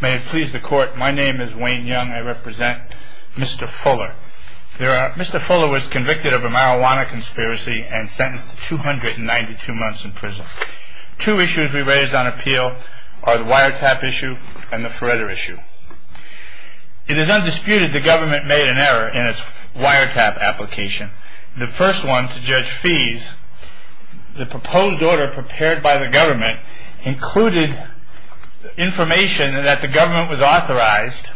May it please the court, my name is Wayne Young. I represent Mr. Fuller. Mr. Fuller was convicted of a marijuana conspiracy and sentenced to 292 months in prison. Two issues we raised on appeal are the wiretap issue and the Feretta issue. It is undisputed the government made an error in its wiretap application. The first one, to judge fees, the proposed order prepared by the government included information that the government was authorized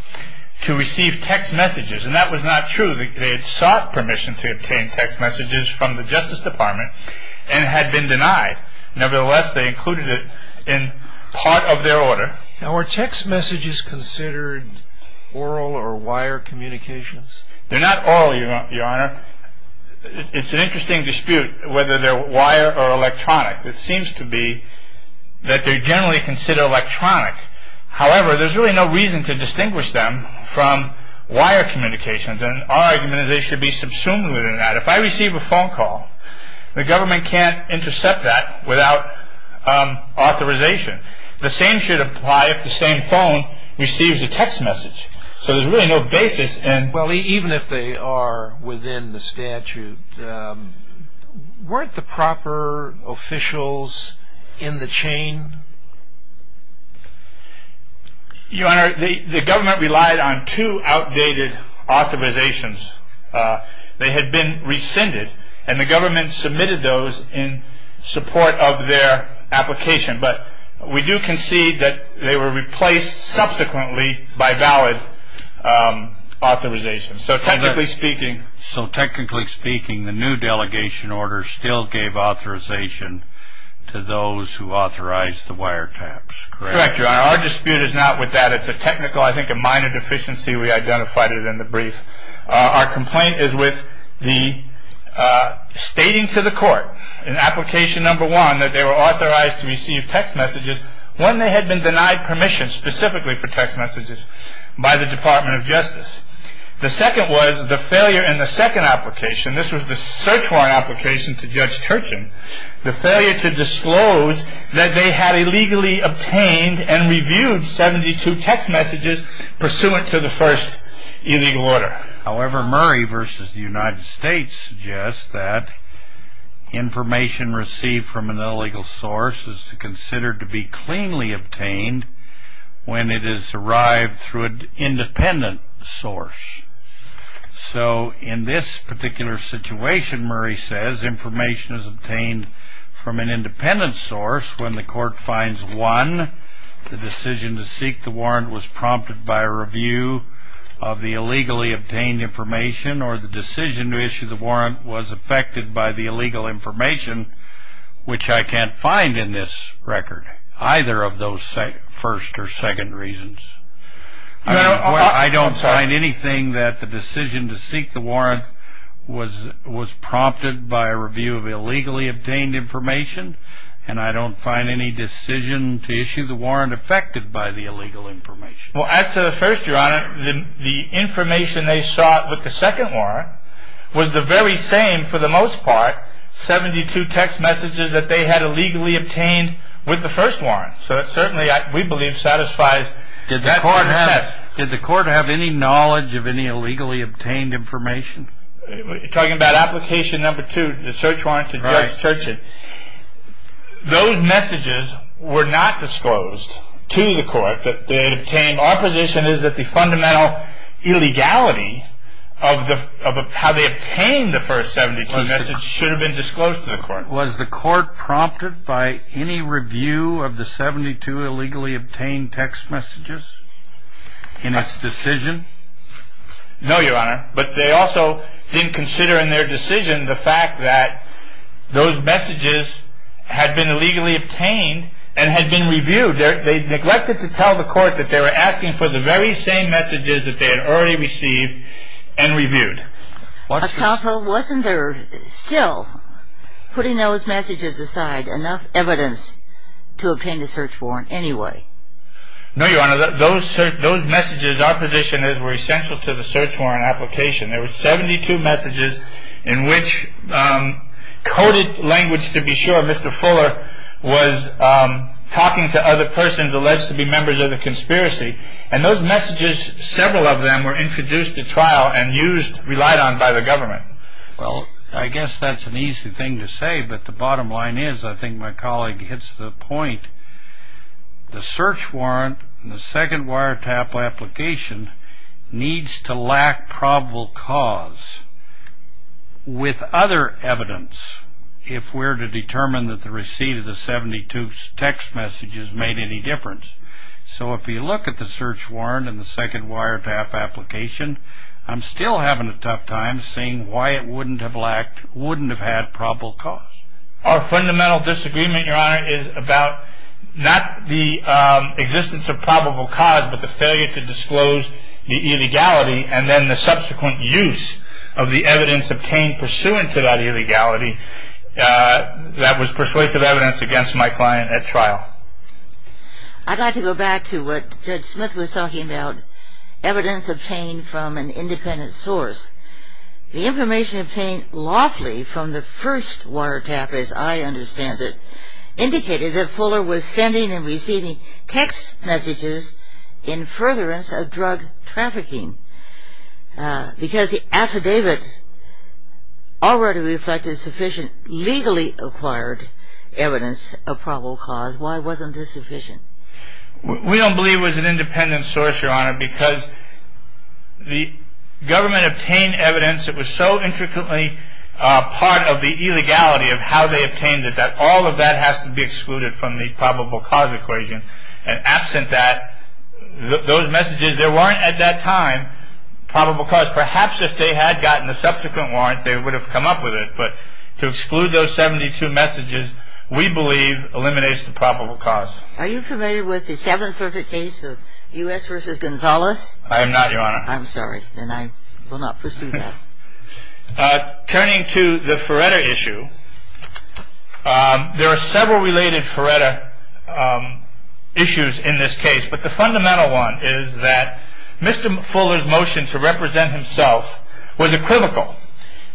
to receive text messages. And that was not true. They had sought permission to obtain text messages from the Justice Department and had been denied. Nevertheless, they included it in part of their order. Now, are text messages considered oral or wire communications? They're not oral, your honor. It's an interesting dispute whether they're wire or electronic. It seems to be that they're generally considered electronic. However, there's really no reason to distinguish them from wire communications. And our argument is they should be subsumed within that. If I receive a phone call, the government can't intercept that without authorization. The same should apply if the same phone receives a text message. So there's really no basis in... in the chain? Your honor, the government relied on two outdated authorizations. They had been rescinded and the government submitted those in support of their application. But we do concede that they were replaced subsequently by valid authorization. So technically speaking... to those who authorized the wiretaps, correct? Correct, your honor. Our dispute is not with that. It's a technical, I think, a minor deficiency. We identified it in the brief. Our complaint is with the stating to the court in application number one that they were authorized to receive text messages when they had been denied permission specifically for text messages by the Department of Justice. The second was the failure in the second application. This was the search warrant application to Judge Turchin. The failure to disclose that they had illegally obtained and reviewed 72 text messages pursuant to the first illegal order. However, Murray v. The United States suggests that information received from an illegal source is considered to be cleanly obtained when it is arrived through an independent source. So in this particular situation, Murray says, information is obtained from an independent source when the court finds, one, the decision to seek the warrant was prompted by a review of the illegally obtained information or the decision to issue the warrant was affected by the illegal information, which I can't find in this record, either of those first or second reasons. I don't find anything that the decision to seek the warrant was prompted by a review of illegally obtained information and I don't find any decision to issue the warrant affected by the illegal information. Well, as to the first, Your Honor, the information they sought with the second warrant was the very same for the most part, 72 text messages that they had illegally obtained with the first warrant. So it certainly, we believe, satisfies that contest. Did the court have any knowledge of any illegally obtained information? You're talking about application number two, the search warrant to Judge Churchill. Those messages were not disclosed to the court that they had obtained. Our position is that the fundamental illegality of how they obtained the first 72 message should have been disclosed to the court. Your Honor, was the court prompted by any review of the 72 illegally obtained text messages in its decision? No, Your Honor, but they also didn't consider in their decision the fact that those messages had been illegally obtained and had been reviewed. They neglected to tell the court that they were asking for the very same messages that they had already received and reviewed. Counsel, wasn't there still, putting those messages aside, enough evidence to obtain the search warrant anyway? No, Your Honor, those messages, our position is, were essential to the search warrant application. There were 72 messages in which coded language, to be sure, Mr. Fuller was talking to other persons alleged to be members of the conspiracy. And those messages, several of them, were introduced at trial and relied on by the government. Well, I guess that's an easy thing to say, but the bottom line is, I think my colleague hits the point, the search warrant in the second wiretap application needs to lack probable cause with other evidence if we're to determine that the receipt of the 72 text messages made any difference. So if you look at the search warrant in the second wiretap application, I'm still having a tough time seeing why it wouldn't have lacked, wouldn't have had probable cause. Our fundamental disagreement, Your Honor, is about not the existence of probable cause, but the failure to disclose the illegality and then the subsequent use of the evidence obtained pursuant to that illegality that was persuasive evidence against my client at trial. I'd like to go back to what Judge Smith was talking about, evidence obtained from an independent source. The information obtained lawfully from the first wiretap, as I understand it, indicated that Fuller was sending and receiving text messages in furtherance of drug trafficking because the affidavit already reflected sufficient legally acquired evidence of probable cause. Why wasn't this sufficient? We don't believe it was an independent source, Your Honor, because the government obtained evidence that was so intricately part of the illegality of how they obtained it that all of that has to be excluded from the probable cause equation. And absent that, those messages, there weren't at that time probable cause. Perhaps if they had gotten the subsequent warrant, they would have come up with it. But to exclude those 72 messages, we believe eliminates the probable cause. Are you familiar with the Seventh Circuit case of U.S. v. Gonzalez? I am not, Your Honor. I'm sorry. Then I will not pursue that. Turning to the Feretta issue, there are several related Feretta issues in this case, but the fundamental one is that Mr. Fuller's motion to represent himself was equivocal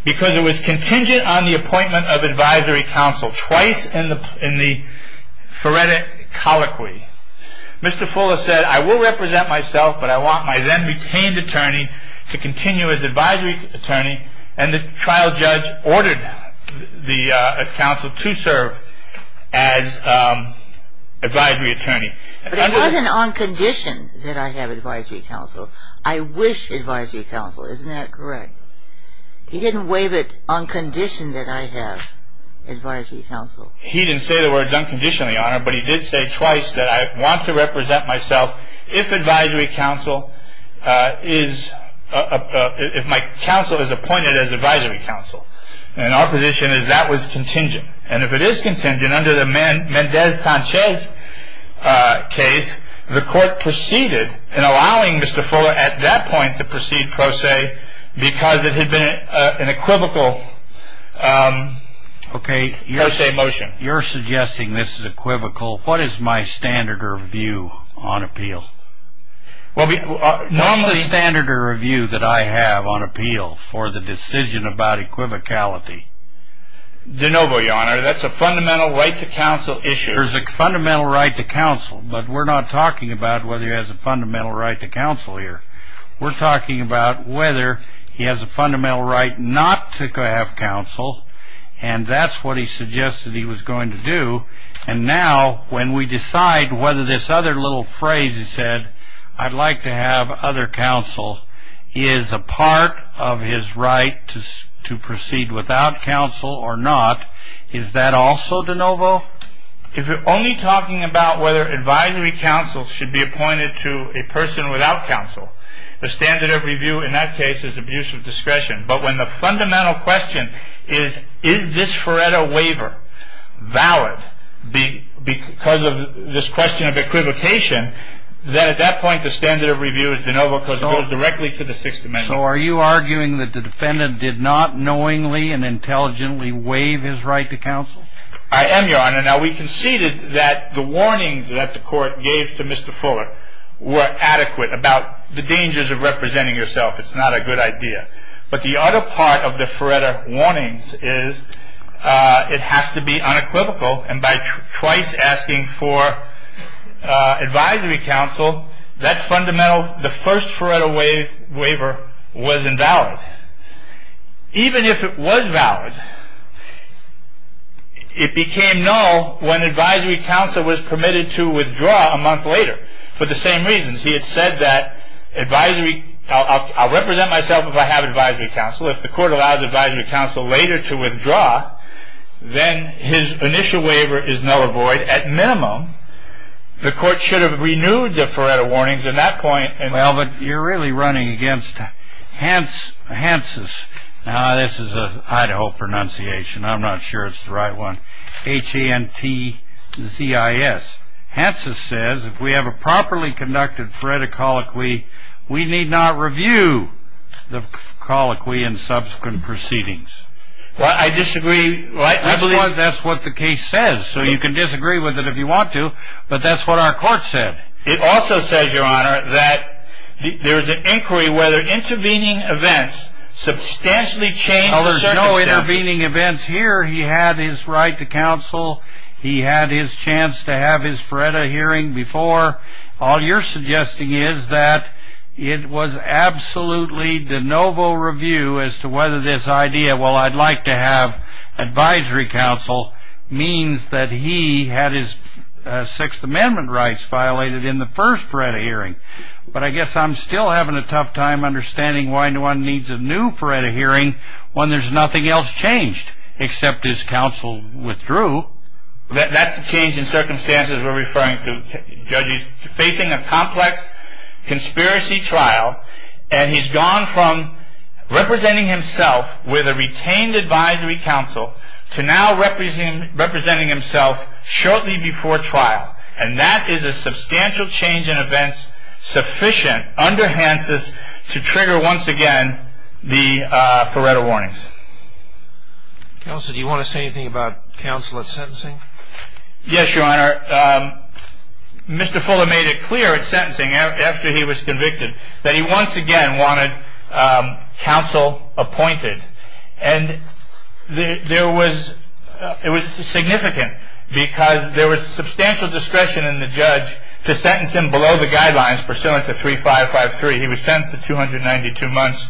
because it was contingent on the appointment of advisory counsel twice in the Feretta colloquy. Mr. Fuller said, I will represent myself, but I want my then-retained attorney to continue as advisory attorney, and the trial judge ordered the counsel to serve as advisory attorney. But it wasn't on condition that I have advisory counsel. I wish advisory counsel. Isn't that correct? He didn't waive it on condition that I have advisory counsel. He didn't say the words on condition, Your Honor, but he did say twice that I want to represent myself if my counsel is appointed as advisory counsel. And our position is that was contingent. And if it is contingent, under the Mendez-Sanchez case, the court proceeded in allowing Mr. Fuller at that point to proceed pro se because it had been an equivocal pro se motion. Okay. You're suggesting this is equivocal. What is my standard of view on appeal? What is the standard of view that I have on appeal for the decision about equivocality? De novo, Your Honor. That's a fundamental right to counsel issue. There's a fundamental right to counsel, but we're not talking about whether he has a fundamental right to counsel here. We're talking about whether he has a fundamental right not to have counsel, and that's what he suggested he was going to do. And now when we decide whether this other little phrase he said, I'd like to have other counsel, is a part of his right to proceed without counsel or not, is that also de novo? If you're only talking about whether advisory counsel should be appointed to a person without counsel, the standard of review in that case is abuse of discretion. But when the fundamental question is, is this Feretta waiver valid because of this question of equivocation, then at that point the standard of review is de novo because it goes directly to the Sixth Amendment. So are you arguing that the defendant did not knowingly and intelligently waive his right to counsel? I am, Your Honor. Now, we conceded that the warnings that the court gave to Mr. Fuller were adequate about the dangers of representing yourself. It's not a good idea. But the other part of the Feretta warnings is it has to be unequivocal, and by twice asking for advisory counsel, that fundamental, the first Feretta waiver was invalid. Even if it was valid, it became null when advisory counsel was permitted to withdraw a month later for the same reasons. He had said that advisory, I'll represent myself if I have advisory counsel. If the court allows advisory counsel later to withdraw, then his initial waiver is null avoid. At minimum, the court should have renewed the Feretta warnings at that point. Well, but you're really running against Hanses. Now, this is an Idaho pronunciation. I'm not sure it's the right one, H-A-N-T-Z-I-S. Hanses says if we have a properly conducted Feretta colloquy, we need not review the colloquy in subsequent proceedings. Well, I disagree. That's what the case says, so you can disagree with it if you want to, but that's what our court said. It also says, Your Honor, that there is an inquiry whether intervening events substantially change the circumstances. There are no intervening events here. He had his right to counsel. He had his chance to have his Feretta hearing before. All you're suggesting is that it was absolutely de novo review as to whether this idea, well, I'd like to have advisory counsel, means that he had his Sixth Amendment rights violated in the first Feretta hearing. But I guess I'm still having a tough time understanding why one needs a new Feretta hearing when there's nothing else changed except his counsel withdrew. That's the change in circumstances we're referring to. The judge is facing a complex conspiracy trial, and he's gone from representing himself with a retained advisory counsel to now representing himself shortly before trial. And that is a substantial change in events sufficient under Hansen's to trigger once again the Feretta warnings. Counsel, do you want to say anything about counsel at sentencing? Yes, Your Honor. Mr. Fuller made it clear at sentencing after he was convicted that he once again wanted counsel appointed. And it was significant because there was substantial discretion in the judge to sentence him below the guidelines pursuant to 3553. He was sentenced to 292 months.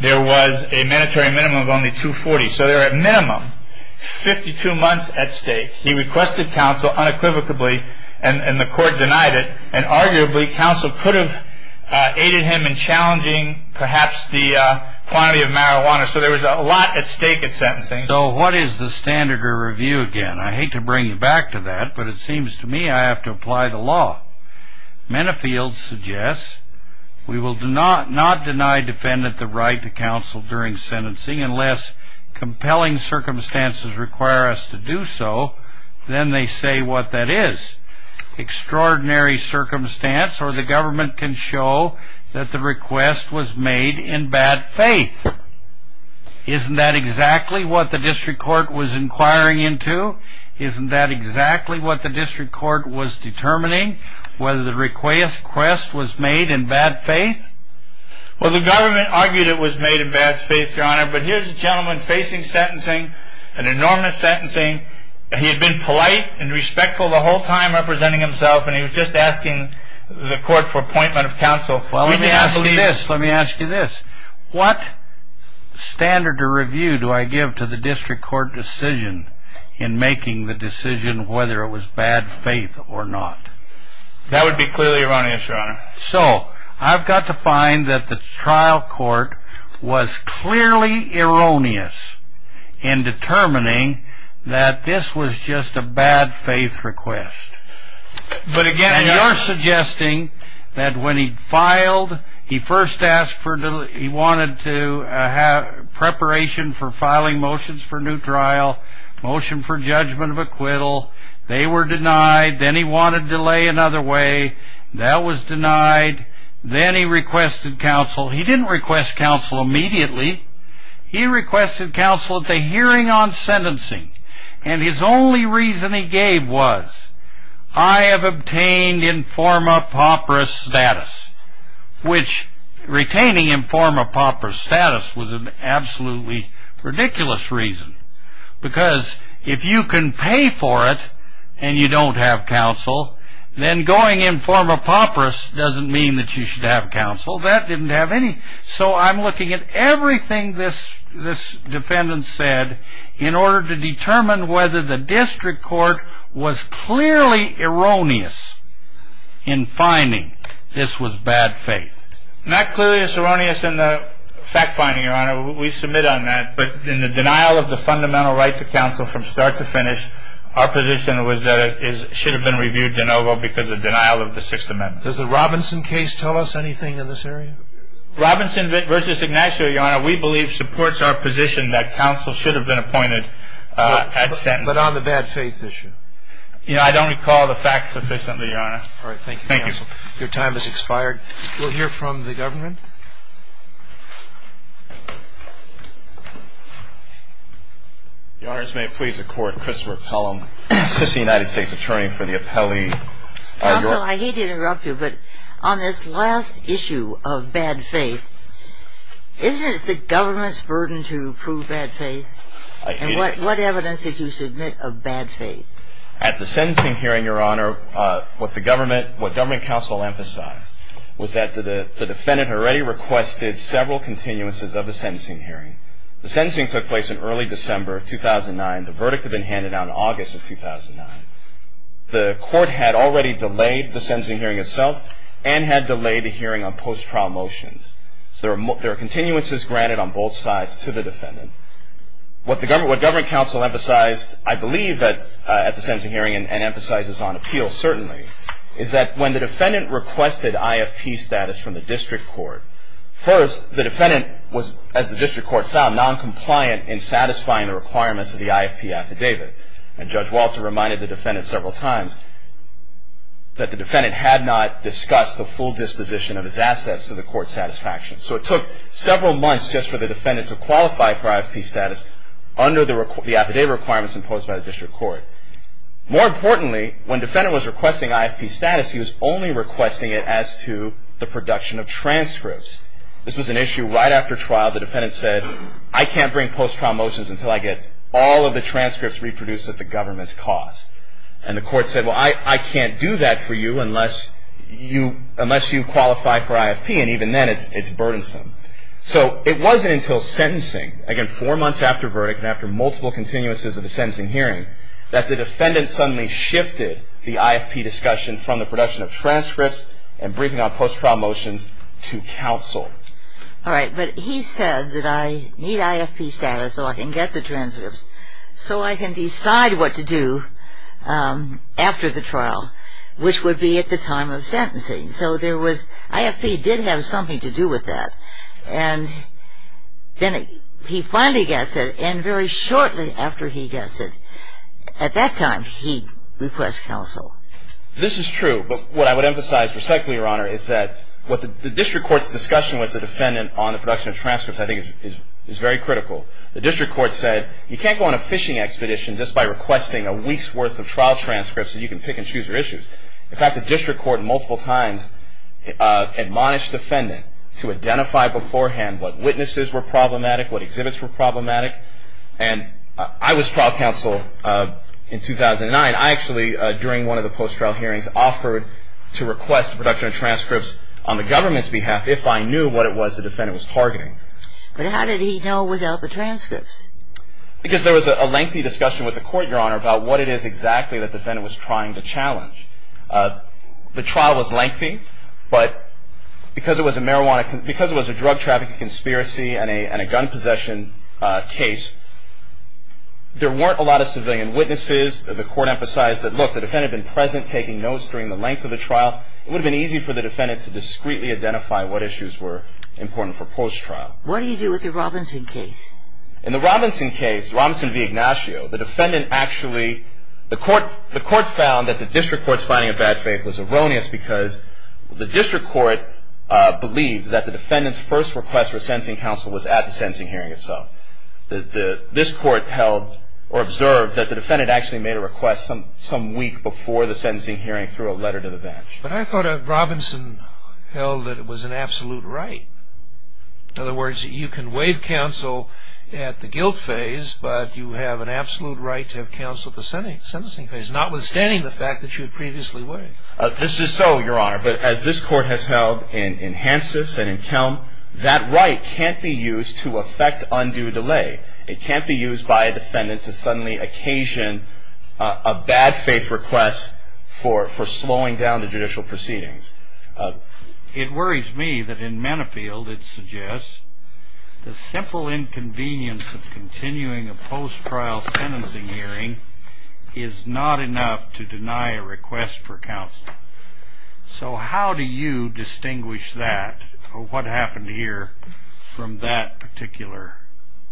There was a mandatory minimum of only 240. So there were at minimum 52 months at stake. He requested counsel unequivocally, and the court denied it. And arguably, counsel could have aided him in challenging perhaps the quantity of marijuana. So there was a lot at stake at sentencing. So what is the standard to review again? I hate to bring you back to that, but it seems to me I have to apply the law. Mennefield suggests we will not deny defendant the right to counsel during sentencing unless compelling circumstances require us to do so. Then they say what that is. Extraordinary circumstance, or the government can show that the request was made in bad faith. Isn't that exactly what the district court was inquiring into? Isn't that exactly what the district court was determining, whether the request was made in bad faith? Well, the government argued it was made in bad faith, Your Honor. But here's a gentleman facing sentencing, an enormous sentencing. He had been polite and respectful the whole time representing himself, and he was just asking the court for appointment of counsel. Let me ask you this. What standard to review do I give to the district court decision in making the decision whether it was bad faith or not? So, I've got to find that the trial court was clearly erroneous in determining that this was just a bad faith request. And you're suggesting that when he filed, he first asked for, he wanted to have preparation for filing motions for new trial, motion for judgment of acquittal. They were denied. Then he wanted delay another way. That was denied. Then he requested counsel. He didn't request counsel immediately. He requested counsel at the hearing on sentencing. And his only reason he gave was, I have obtained informa pauperis status, which retaining informa pauperis status was an absolutely ridiculous reason. Because if you can pay for it and you don't have counsel, then going informa pauperis doesn't mean that you should have counsel. That didn't have any. So, I'm looking at everything this defendant said in order to determine whether the district court was clearly erroneous in finding this was bad faith. Not clearly as erroneous in the fact finding, Your Honor. We submit on that. But in the denial of the fundamental right to counsel from start to finish, our position was that it should have been reviewed de novo because of denial of the Sixth Amendment. Does the Robinson case tell us anything in this area? Robinson versus Ignacio, Your Honor, we believe supports our position that counsel should have been appointed at sentencing. But on the bad faith issue? I don't recall the fact sufficiently, Your Honor. All right. Thank you, counsel. Your time has expired. We'll hear from the government. Your Honors, may it please the Court, Christopher Pelham, assistant United States attorney for the appellee. Counsel, I hate to interrupt you, but on this last issue of bad faith, isn't it the government's burden to prove bad faith? I hate it. And what evidence did you submit of bad faith? At the sentencing hearing, Your Honor, what government counsel emphasized was that the defendant already requested several continuances of the sentencing hearing. The sentencing took place in early December 2009. The verdict had been handed down in August of 2009. The court had already delayed the sentencing hearing itself and had delayed the hearing on post-trial motions. So there are continuances granted on both sides to the defendant. What government counsel emphasized, I believe, at the sentencing hearing, and emphasizes on appeals, certainly, is that when the defendant requested IFP status from the district court, first, the defendant was, as the district court found, noncompliant in satisfying the requirements of the IFP affidavit. And Judge Walter reminded the defendant several times that the defendant had not discussed the full disposition of his assets to the court's satisfaction. So it took several months just for the defendant to qualify for IFP status under the affidavit requirements imposed by the district court. More importantly, when the defendant was requesting IFP status, he was only requesting it as to the production of transcripts. This was an issue right after trial. The defendant said, I can't bring post-trial motions until I get all of the transcripts reproduced at the government's cost. And the court said, well, I can't do that for you unless you qualify for IFP. And even then, it's burdensome. So it wasn't until sentencing, again, four months after verdict and after multiple continuances of the sentencing hearing, that the defendant suddenly shifted the IFP discussion from the production of transcripts and briefing on post-trial motions to counsel. All right. But he said that I need IFP status so I can get the transcripts, so I can decide what to do after the trial, which would be at the time of sentencing. So there was IFP did have something to do with that. And then he finally gets it. And very shortly after he gets it, at that time, he requests counsel. This is true. But what I would emphasize respectfully, Your Honor, is that the district court's discussion with the defendant on the production of transcripts, I think, is very critical. The district court said, you can't go on a fishing expedition just by requesting a week's worth of trial transcripts that you can pick and choose your issues. In fact, the district court multiple times admonished the defendant to identify beforehand what witnesses were problematic, what exhibits were problematic. And I was trial counsel in 2009. I actually, during one of the post-trial hearings, offered to request production of transcripts on the government's behalf if I knew what it was the defendant was targeting. But how did he know without the transcripts? Because there was a lengthy discussion with the court, Your Honor, about what it is exactly the defendant was trying to challenge. The trial was lengthy, but because it was a drug trafficking conspiracy and a gun possession case, there weren't a lot of civilian witnesses. The court emphasized that, look, the defendant had been present, taking notes during the length of the trial. It would have been easy for the defendant to discreetly identify what issues were important for post-trial. What do you do with the Robinson case? In the Robinson case, Robinson v. Ignacio, the defendant actually, the court found that the district court's finding of bad faith was erroneous because the district court believed that the defendant's first request for sentencing counsel was at the sentencing hearing itself. This court held or observed that the defendant actually made a request some week before the sentencing hearing through a letter to the bench. But I thought Robinson held that it was an absolute right. In other words, you can waive counsel at the guilt phase, but you have an absolute right to have counsel at the sentencing phase, notwithstanding the fact that you had previously waived. This is so, Your Honor, but as this court has held in Hansis and in Kelm, that right can't be used to effect undue delay. It can't be used by a defendant to suddenly occasion a bad faith request for slowing down the judicial proceedings. It worries me that in Manapfield it suggests the simple inconvenience of continuing a post-trial sentencing hearing is not enough to deny a request for counsel. So how do you distinguish that or what happened here from that particular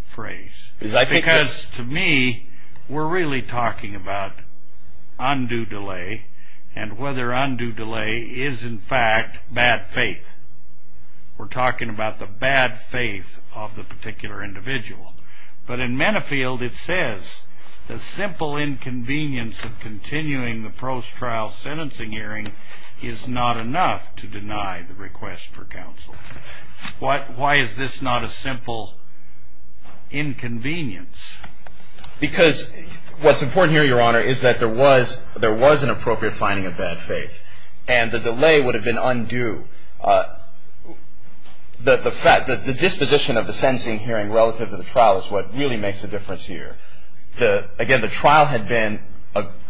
phrase? Because to me, we're really talking about undue delay and whether undue delay is, in fact, bad faith. We're talking about the bad faith of the particular individual. But in Manapfield it says the simple inconvenience of continuing the post-trial sentencing hearing is not enough to deny the request for counsel. Why is this not a simple inconvenience? Because what's important here, Your Honor, is that there was an appropriate finding of bad faith and the delay would have been undue. The disposition of the sentencing hearing relative to the trial is what really makes a difference here. Again, the trial had been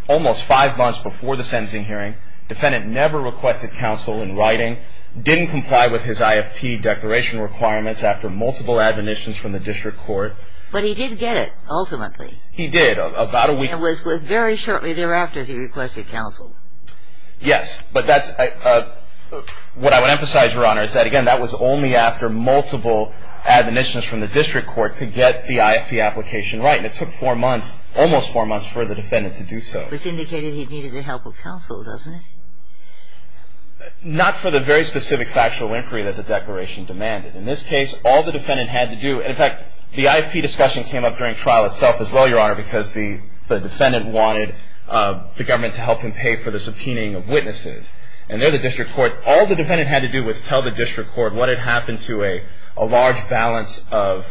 almost five months before the sentencing hearing. The defendant never requested counsel in writing, didn't comply with his IFP declaration requirements after multiple admonitions from the district court. But he did get it, ultimately. He did, about a week. And it was very shortly thereafter he requested counsel. Yes. But what I would emphasize, Your Honor, is that, again, that was only after multiple admonitions from the district court to get the IFP application right. And it took four months, almost four months, for the defendant to do so. This indicated he needed the help of counsel, doesn't it? Not for the very specific factual inquiry that the declaration demanded. In this case, all the defendant had to do, and, in fact, the IFP discussion came up during trial itself as well, Your Honor, because the defendant wanted the government to help him pay for the subpoenaing of witnesses. And there the district court, all the defendant had to do was tell the district court what had happened to a large balance of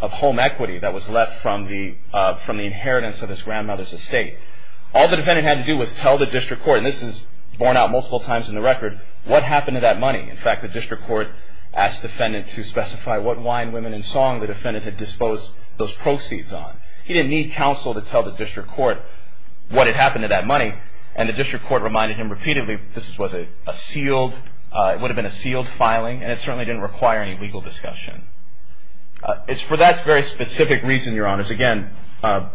home equity that was left from the inheritance of his grandmother's estate. All the defendant had to do was tell the district court, and this is borne out multiple times in the record, what happened to that money. In fact, the district court asked the defendant to specify what wine, women, and song the defendant had disposed those proceeds on. He didn't need counsel to tell the district court what had happened to that money, and the district court reminded him repeatedly this was a sealed, it would have been a sealed filing, and it certainly didn't require any legal discussion. It's for that very specific reason, Your Honor, again, the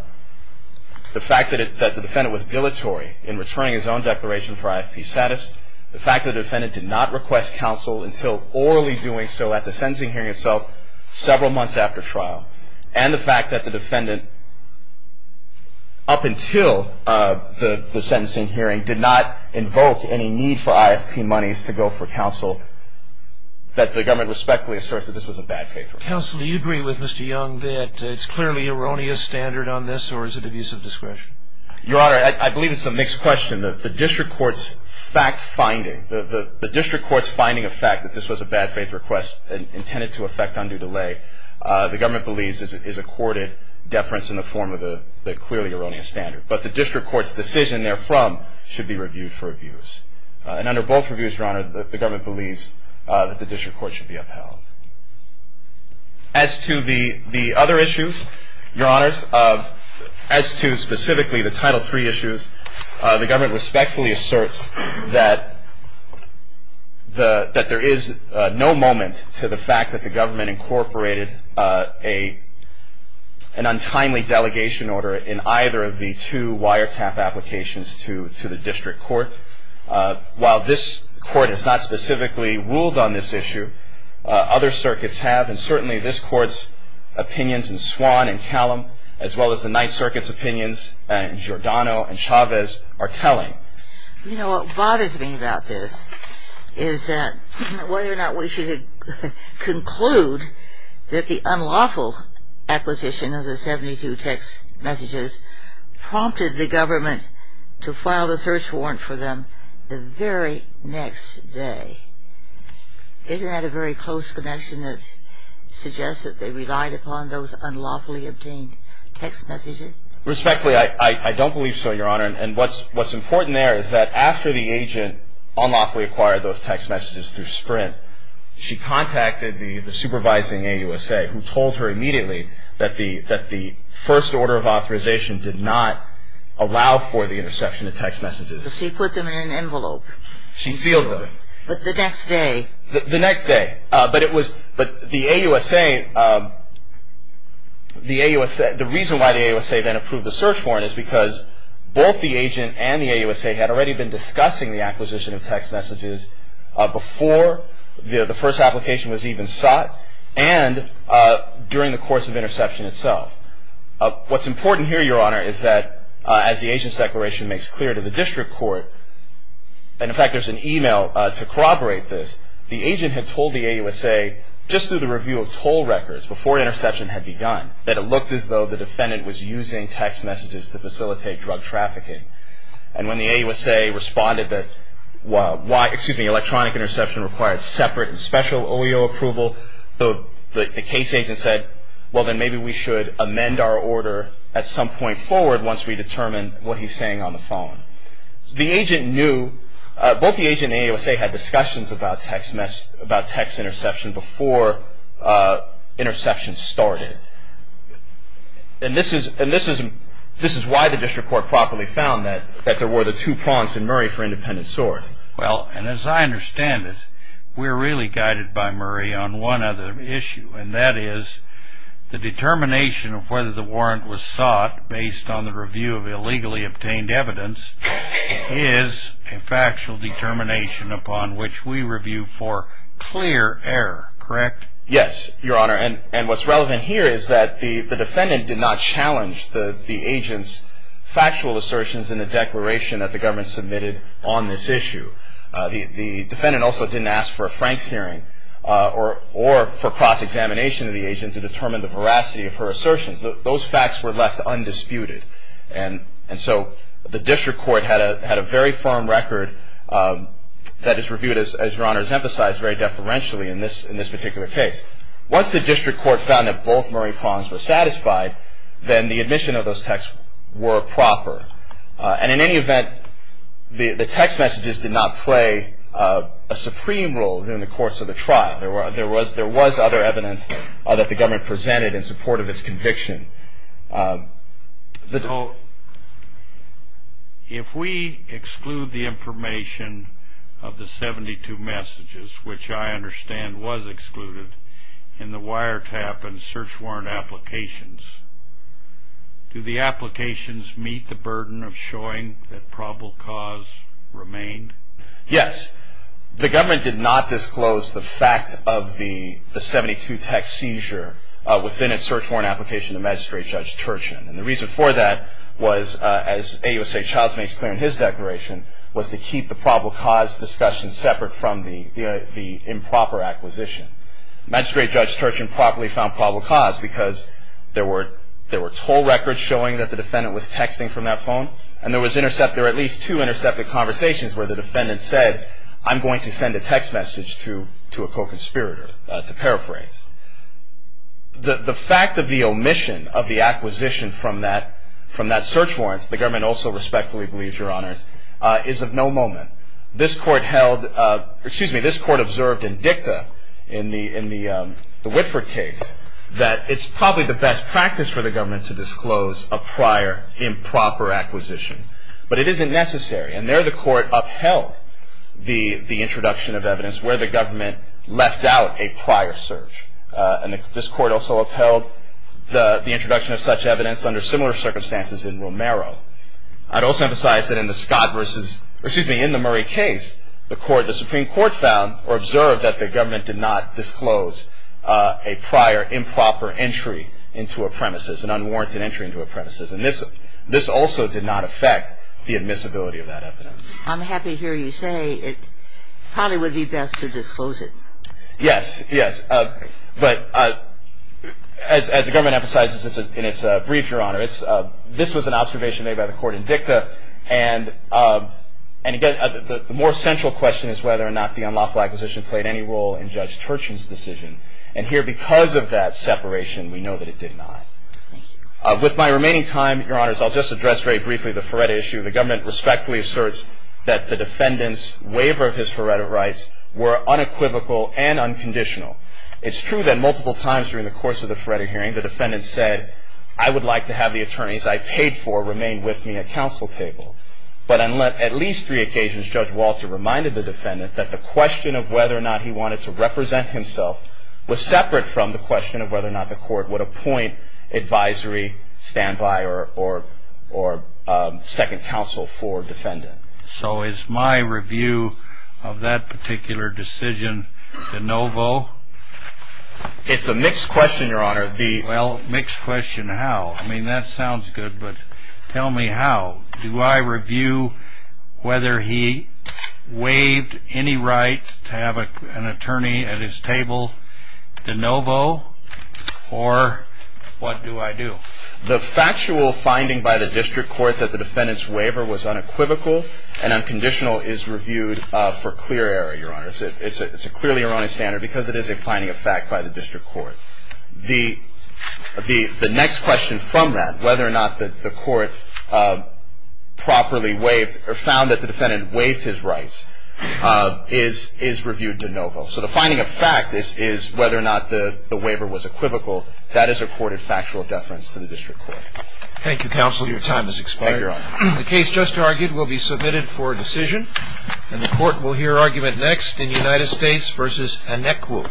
fact that the defendant was dilatory in returning his own declaration for IFP status, the fact that the defendant did not request counsel until orally doing so at the sentencing hearing itself several months after trial, and the fact that the defendant, up until the sentencing hearing, did not invoke any need for IFP monies to go for counsel, that the government respectfully asserts that this was a bad case. Counsel, do you agree with Mr. Young that it's clearly erroneous standard on this, or is it abuse of discretion? Your Honor, I believe it's a mixed question. The district court's fact-finding, the district court's finding of fact that this was a bad faith request intended to affect undue delay, the government believes is accorded deference in the form of the clearly erroneous standard. But the district court's decision therefrom should be reviewed for abuse. And under both reviews, Your Honor, the government believes that the district court should be upheld. As to the other issues, Your Honors, as to specifically the Title III issues, the government respectfully asserts that there is no moment to the fact that the government incorporated an untimely delegation order in either of the two wiretap applications to the district court. While this court has not specifically ruled on this issue, other circuits have, and certainly this court's opinions in Swan and Callum, as well as the Ninth Circuit's opinions in Giordano and Chavez, are telling. You know, what bothers me about this is that whether or not we should conclude that the unlawful acquisition of the 72 text messages prompted the government to file the search warrant for them the very next day. Isn't that a very close connection that suggests that they relied upon those unlawfully obtained text messages? Respectfully, I don't believe so, Your Honor. And what's important there is that after the agent unlawfully acquired those text messages through Sprint, she contacted the supervising AUSA, who told her immediately that the first order of authorization did not allow for the interception of text messages. So she put them in an envelope. She sealed them. The next day. The next day. But the reason why the AUSA then approved the search warrant is because both the agent and the AUSA had already been discussing the acquisition of text messages before the first application was even sought and during the course of interception itself. What's important here, Your Honor, is that as the agent's declaration makes clear to the district court, and, in fact, there's an email to corroborate this, the agent had told the AUSA just through the review of toll records before interception had begun that it looked as though the defendant was using text messages to facilitate drug trafficking. And when the AUSA responded that electronic interception required separate and special OEO approval, the case agent said, well, then maybe we should amend our order at some point forward once we determine what he's saying on the phone. The agent knew. Both the agent and the AUSA had discussions about text interception before interception started. And this is why the district court properly found that there were the two pawns in Murray for independent source. Well, and as I understand it, we're really guided by Murray on one other issue, and that is the determination of whether the warrant was sought based on the review of illegally obtained evidence is a factual determination upon which we review for clear error, correct? Yes, Your Honor. And what's relevant here is that the defendant did not challenge the agent's factual assertions in the declaration that the government submitted on this issue. The defendant also didn't ask for a Franks hearing or for cross-examination of the agent to determine the veracity of her assertions. Those facts were left undisputed. And so the district court had a very firm record that is reviewed, as Your Honor has emphasized, very deferentially in this particular case. Once the district court found that both Murray pawns were satisfied, then the admission of those texts were proper. And in any event, the text messages did not play a supreme role during the course of the trial. There was other evidence that the government presented in support of its conviction. If we exclude the information of the 72 messages, which I understand was excluded, in the wiretap and search warrant applications, do the applications meet the burden of showing that probable cause remained? Yes. The government did not disclose the fact of the 72-text seizure within its search warrant application to Magistrate Judge Turchin. And the reason for that was, as AUSA Childs makes clear in his declaration, was to keep the probable cause discussion separate from the improper acquisition. Magistrate Judge Turchin properly found probable cause because there were toll records showing that the defendant was texting from that phone, and there were at least two intercepted conversations where the defendant said, I'm going to send a text message to a co-conspirator, to paraphrase. The fact of the omission of the acquisition from that search warrant, the government also respectfully believes, Your Honors, is of no moment. This court observed in DICTA, in the Whitford case, that it's probably the best practice for the government to disclose a prior improper acquisition. But it isn't necessary, and there the court upheld the introduction of evidence where the government left out a prior search. This court also upheld the introduction of such evidence under similar circumstances in Romero. I'd also emphasize that in the Murray case, the Supreme Court found or observed that the government did not disclose a prior improper entry into a premises, an unwarranted entry into a premises. And this also did not affect the admissibility of that evidence. I'm happy to hear you say it probably would be best to disclose it. Yes, yes. But as the government emphasizes in its brief, Your Honor, this was an observation made by the court in DICTA. And again, the more central question is whether or not the unlawful acquisition played any role in Judge Turchin's decision. And here, because of that separation, we know that it did not. With my remaining time, Your Honors, I'll just address very briefly the Feretta issue. The government respectfully asserts that the defendant's waiver of his Feretta rights were unequivocal and unconditional. It's true that multiple times during the course of the Feretta hearing, the defendant said, I would like to have the attorneys I paid for remain with me at counsel table. But on at least three occasions, Judge Walter reminded the defendant that the question of whether or not he wanted to represent himself was separate from the question of whether or not the court would appoint advisory, standby, or second counsel for a defendant. So is my review of that particular decision de novo? It's a mixed question, Your Honor. Well, mixed question how? I mean, that sounds good, but tell me how. Do I review whether he waived any right to have an attorney at his table de novo? Or what do I do? The factual finding by the district court that the defendant's waiver was unequivocal and unconditional is reviewed for clear error, Your Honor. It's a clearly erroneous standard because it is a finding of fact by the district court. The next question from that, whether or not the court properly waived or found that the defendant waived his rights, is reviewed de novo. So the finding of fact is whether or not the waiver was equivocal. That is a courted factual deference to the district court. Thank you, counsel. Thank you, Your Honor. The case just argued will be submitted for decision, and the court will hear argument next in United States v. Anecu.